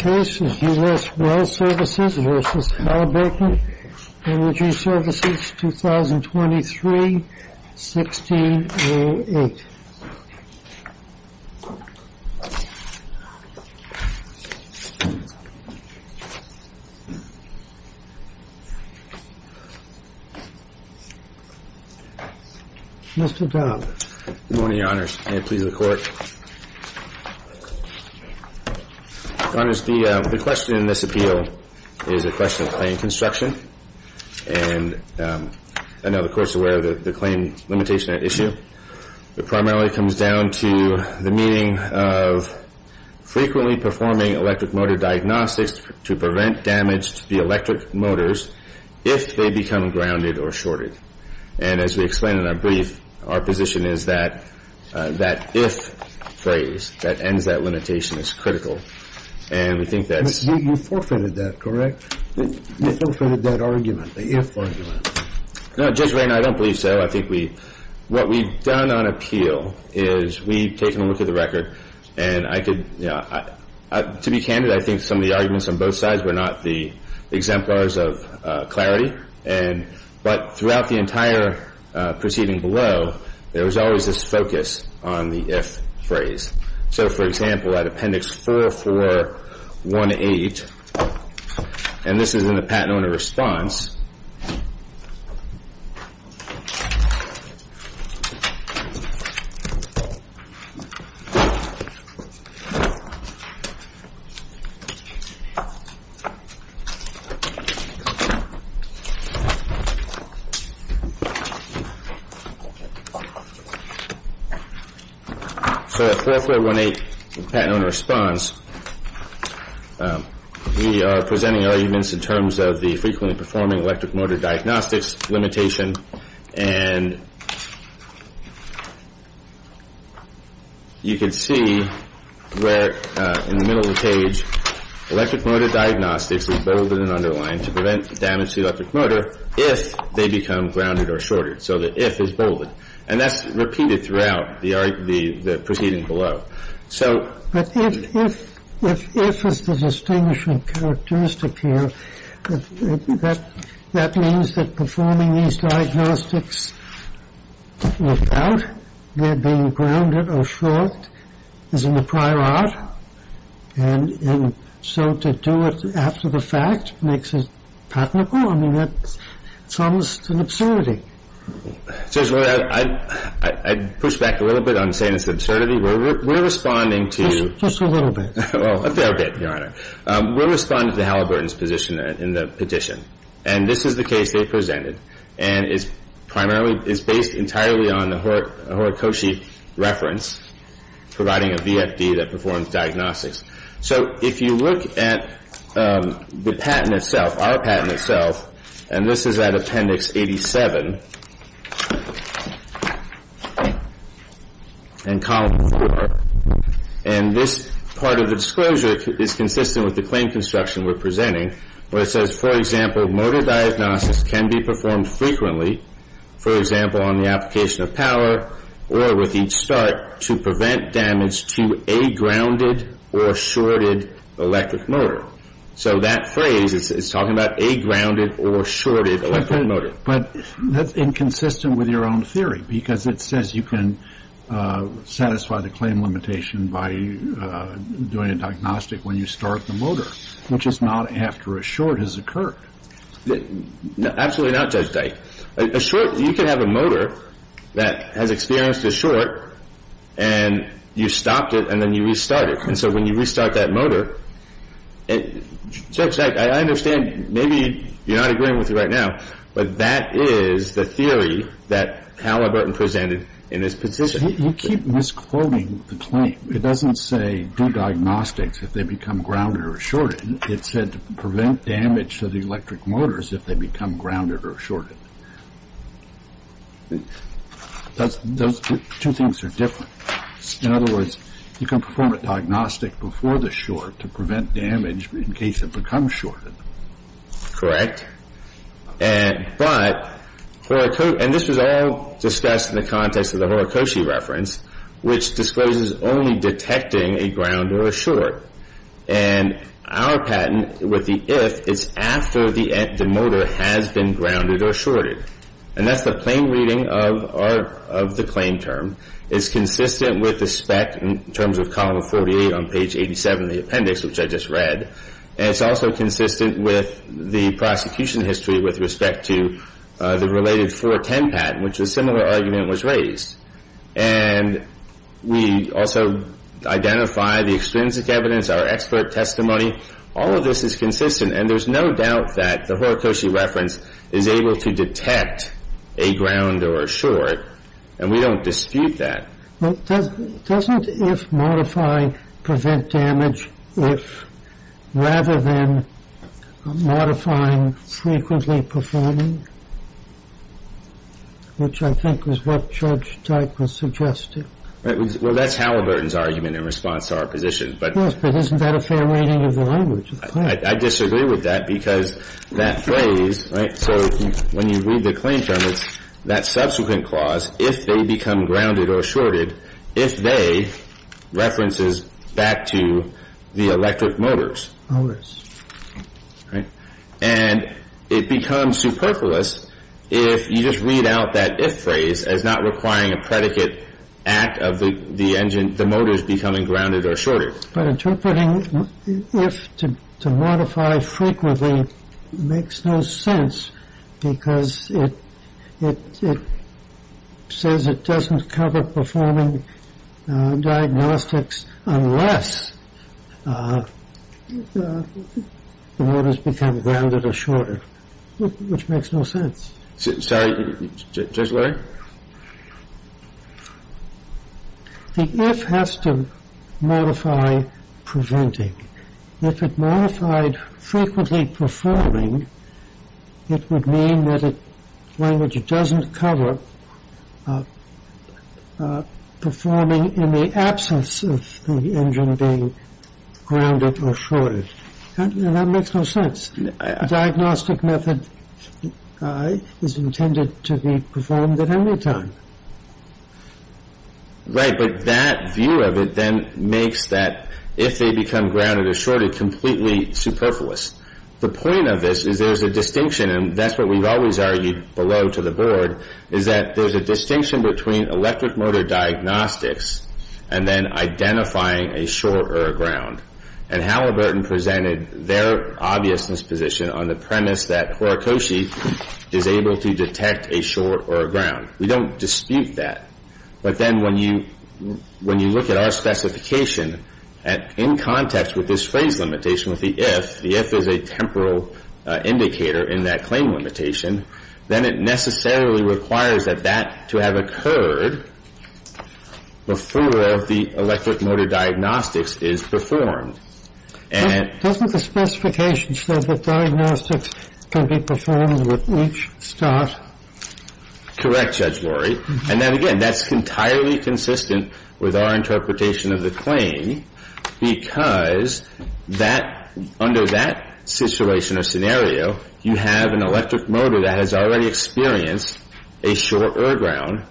The case is U.S. Well Services v. Halliburton Energy Services, 2023-1608. Mr. Dobbs. Good morning, Your Honors. May it please the Court. Your Honors, the question in this appeal is a question of claim construction, and I know the Court's aware of the claim limitation at issue. It primarily comes down to the meaning of frequently performing electric motor diagnostics to prevent damage to the electric motors if they become grounded or shorted. And as we explained in our brief, our position is that that if phrase that ends that limitation is critical. And we think that's You forfeited that, correct? You forfeited that argument, the if argument. No, Judge Raynor, I don't believe so. I think what we've done on appeal is we've taken a look at the record, and I could, to be candid, I think some of the arguments on both sides were not the exemplars of clarity. But throughout the entire proceeding below, there was always this focus on the if phrase. So for example, at Appendix 4418, and this is in the Patent Owner Response, So at 4418, Patent Owner Response, we are presenting arguments in terms of the frequently performing electric motor diagnostics limitation, and you can see where in the middle of the page, electric motor diagnostics is beveled and underlined to prevent damage to the electric motor if they become grounded or shorted. So the if is bolded. And that's repeated throughout the proceeding below. But if is the distinguishing characteristic here, that means that performing these diagnostics without their being grounded or short is in the prior art, and so to do it after the fact makes it patentable, I mean, that's almost an absurdity. I'd push back a little bit on saying it's an absurdity. We're responding to Just a little bit. Well, a fair bit, Your Honor. We're responding to the Halliburton's position in the petition. And this is the case they presented, and is primarily, is based entirely on the Horikoshi reference, providing a VFD that performs diagnostics. So if you look at the patent itself, our patent itself, and this is at Appendix 87, and Column 4, and this part of the disclosure is consistent with the claim construction we're presenting, where it says, for example, motor diagnostics can be performed frequently, for example, on the application of power, or with each start, to prevent damage to a grounded or shorted electric motor. So that phrase is talking about a grounded or shorted electric motor. But that's inconsistent with your own theory, because it says you can satisfy the claim limitation by doing a diagnostic when you start the motor, which is not after a short has occurred. Absolutely not, Judge Dike. A short, you can have a motor that has experienced a short, and you stopped it, and then you restart it. And so when you restart that motor, Judge Dike, I understand maybe you're not agreeing with me right now, but that is the theory that Halliburton presented in this petition. You keep misquoting the claim. It doesn't say do diagnostics if they become grounded or shorted. It said to prevent damage to the electric motors if they become grounded or shorted. Those two things are different. In other words, you can perform a diagnostic before the short to prevent damage in case it becomes shorted. Correct. But, and this was all discussed in the context of the Horikoshi reference, which discloses only detecting a grounded or a short. And our patent with the if is after the motor has been grounded or shorted. And that's the plain reading of the claim term. It's consistent with the spec in terms of column 48 on page 87 of the appendix, which I just read. And it's also consistent with the prosecution history with respect to the related 410 patent, which a similar argument was raised. And we also identify the extrinsic evidence, our expert testimony. All of this is consistent. And there's no doubt that the Horikoshi reference is able to detect a ground or a short. And we don't dispute that. But doesn't if modify prevent damage if rather than modifying frequently performing, which I think is what Judge Teichman suggested. Well, that's Halliburton's argument in response to our position. Yes, but isn't that a fair reading of the language of the claim? I disagree with that because that phrase, right, so when you read the claim term, it's that subsequent clause, if they become grounded or shorted, if they, references back to the electric motors. Motors. Right. And it becomes superfluous if you just read out that if phrase as not requiring a predicate act of the engine, the motors becoming grounded or shorted. But interpreting if to modify frequently makes no sense because it says it doesn't cover performing diagnostics unless the motors become grounded or shorted, which makes no sense. Judge Larry? The if has to modify preventing. If it modified frequently performing, it would mean that the language doesn't cover performing in the absence of the engine being grounded or shorted. That makes no sense. Diagnostic method is intended to be performed at any time. Right, but that view of it then makes that if they become grounded or shorted completely superfluous. The point of this is there's a distinction, and that's what we've always argued below to the board, is that there's a distinction between electric motor diagnostics and then identifying a short or a ground. And Halliburton presented their obviousness position on the premise that Horikoshi is able to detect a short or a ground. We don't dispute that. But then when you look at our specification in context with this phrase limitation with the if, the if is a temporal indicator in that claim limitation, then it necessarily requires that that to have occurred before the electric motor diagnostics is performed. Doesn't the specification say that diagnostics can be performed with each start? Correct, Judge Lori. And then again, that's entirely consistent with our interpretation of the claim because under that situation or scenario, you have an electric motor that has already experienced a short or a ground,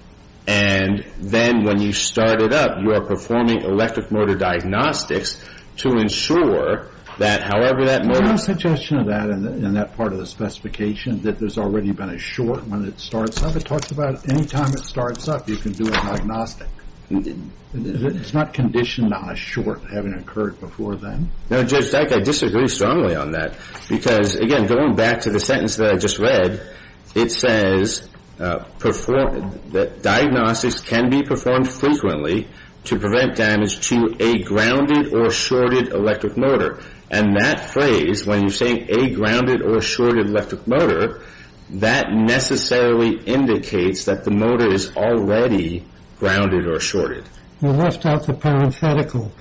and then when you start it up, you are performing electric motor diagnostics to ensure that however that motor Is there a suggestion of that in that part of the specification that there's already been a short when it starts up? It talks about any time it starts up, you can do a diagnostic. It's not conditioned on a short having occurred before then. No, Judge Dyke, I disagree strongly on that because, again, going back to the sentence that I just read, it says that diagnostics can be performed frequently to prevent damage to a grounded or shorted electric motor. And that phrase, when you're saying a grounded or shorted electric motor, that necessarily indicates that the motor is already grounded or shorted. You left out the parenthetical.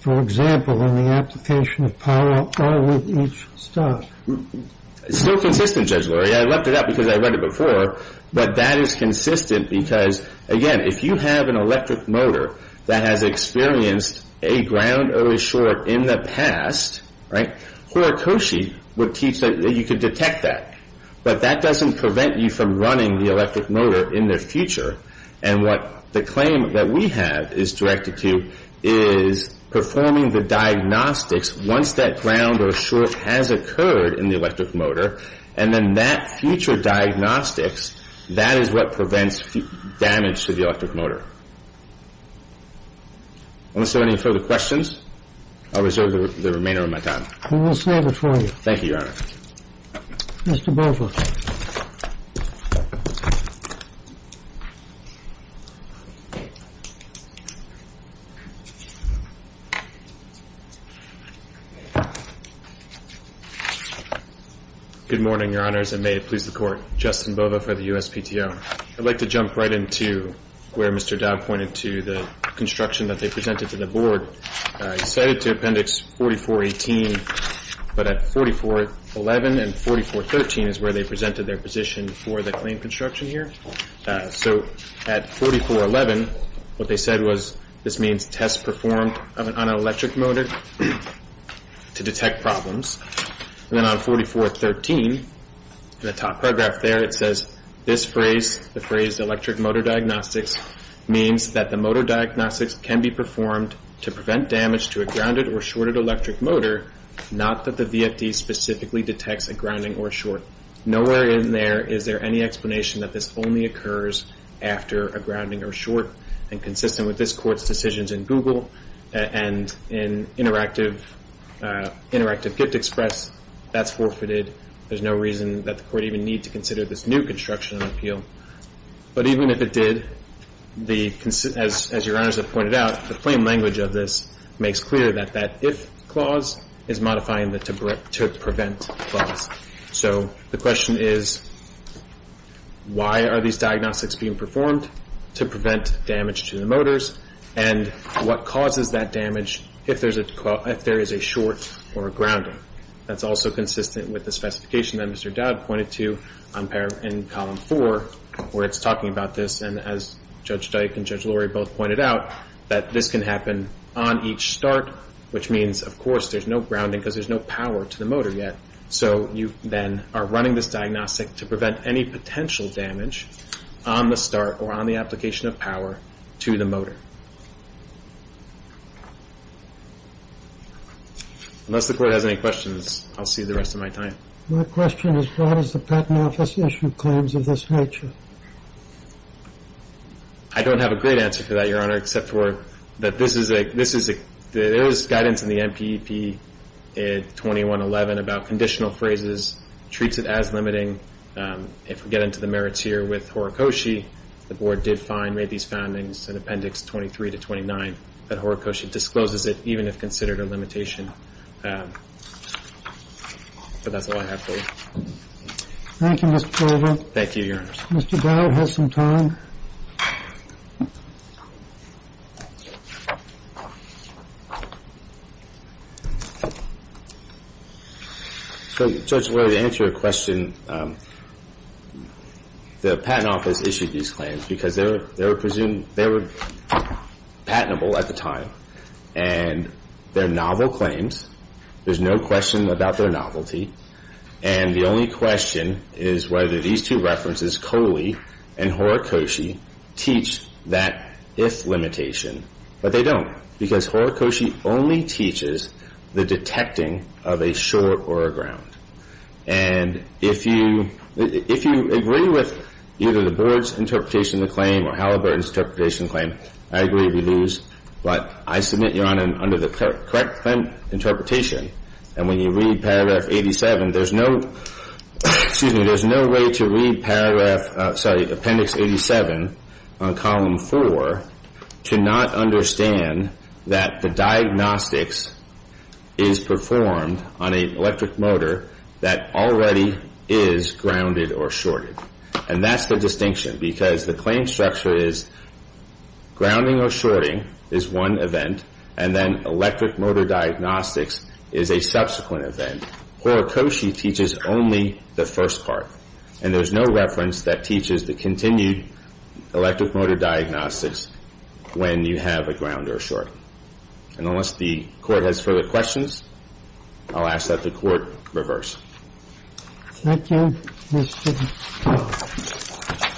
For example, in the application of power all with each start. It's still consistent, Judge Lori. I left it out because I read it before. But that is consistent because, again, if you have an electric motor that has experienced a ground or a short in the past, Horikoshi would teach that you could detect that. But that doesn't prevent you from running the electric motor in the future. And what the claim that we have is directed to is performing the diagnostics once that ground or short has occurred in the electric motor. And then that future diagnostics, that is what prevents damage to the electric motor. Unless there are any further questions, I'll reserve the remainder of my time. We will stand before you. Thank you, Your Honor. Mr. Bovo. Good morning, Your Honors, and may it please the Court. Justin Bovo for the USPTO. I'd like to jump right into where Mr. Dowd pointed to the construction that they presented to the Board. He cited to Appendix 4418, but at 4411 and 4413 is where they presented their position for the claim construction here. So at 4411, what they said was this means test performed on an electric motor to detect problems. And then on 4413, the top paragraph there, it says this phrase, the phrase electric motor diagnostics, means that the motor diagnostics can be performed to prevent damage to a grounded or shorted electric motor, not that the VFD specifically detects a grounding or short. Nowhere in there is there any explanation that this only occurs after a grounding or short. And consistent with this Court's decisions in Google and in Interactive Gift Express, that's forfeited. There's no reason that the Court even need to consider this new construction appeal. But even if it did, as Your Honors have pointed out, the plain language of this makes clear that that if clause is modifying the to prevent clause. So the question is, why are these diagnostics being performed? To prevent damage to the motors, and what causes that damage if there is a short or a grounding? That's also consistent with the specification that Mr. Dowd pointed to in Column 4, where it's talking about this, and as Judge Dyke and Judge Lurie both pointed out, that this can happen on each start, which means, of course, there's no grounding because there's no power to the motor yet. So you then are running this diagnostic to prevent any potential damage on the start or on the application of power to the motor. Unless the Court has any questions, I'll see the rest of my time. My question is, why does the Patent Office issue claims of this nature? I don't have a great answer for that, Your Honor, except for that this is a, there is guidance in the NPEP 2111 about conditional phrases, treats it as limiting. If we get into the merits here with Horikoshi, the Board did find, made these findings in Appendix 23 to 29, that Horikoshi discloses it, even if considered a limitation. But that's all I have for you. Thank you, Mr. Colvin. Thank you, Your Honor. Mr. Dowd has some time. So, Judge Lurie, to answer your question, the Patent Office issued these claims because they were patentable at the time, and they're novel claims. There's no question about their novelty. And the only question is whether these two references, Koli and Horikoshi, teach that if limitation. But they don't, because Horikoshi, because Horikoshi only teaches the detecting of a short or a ground. And if you agree with either the Board's interpretation of the claim or Halliburton's interpretation of the claim, I agree with you, but I submit, Your Honor, under the correct claim interpretation, and when you read Paragraph 87, there's no, excuse me, there's no way to read Paragraph, sorry, Appendix 87, on Column 4, to not understand that the diagnostics is performed on an electric motor that already is grounded or shorted. And that's the distinction, because the claim structure is grounding or shorting is one event, and then electric motor diagnostics is a subsequent event. Horikoshi teaches only the first part, and there's no reference that teaches the continued electric motor diagnostics when you have a ground or a short. And unless the Court has further questions, I'll ask that the Court reverse. Thank you, Mr. Chairman.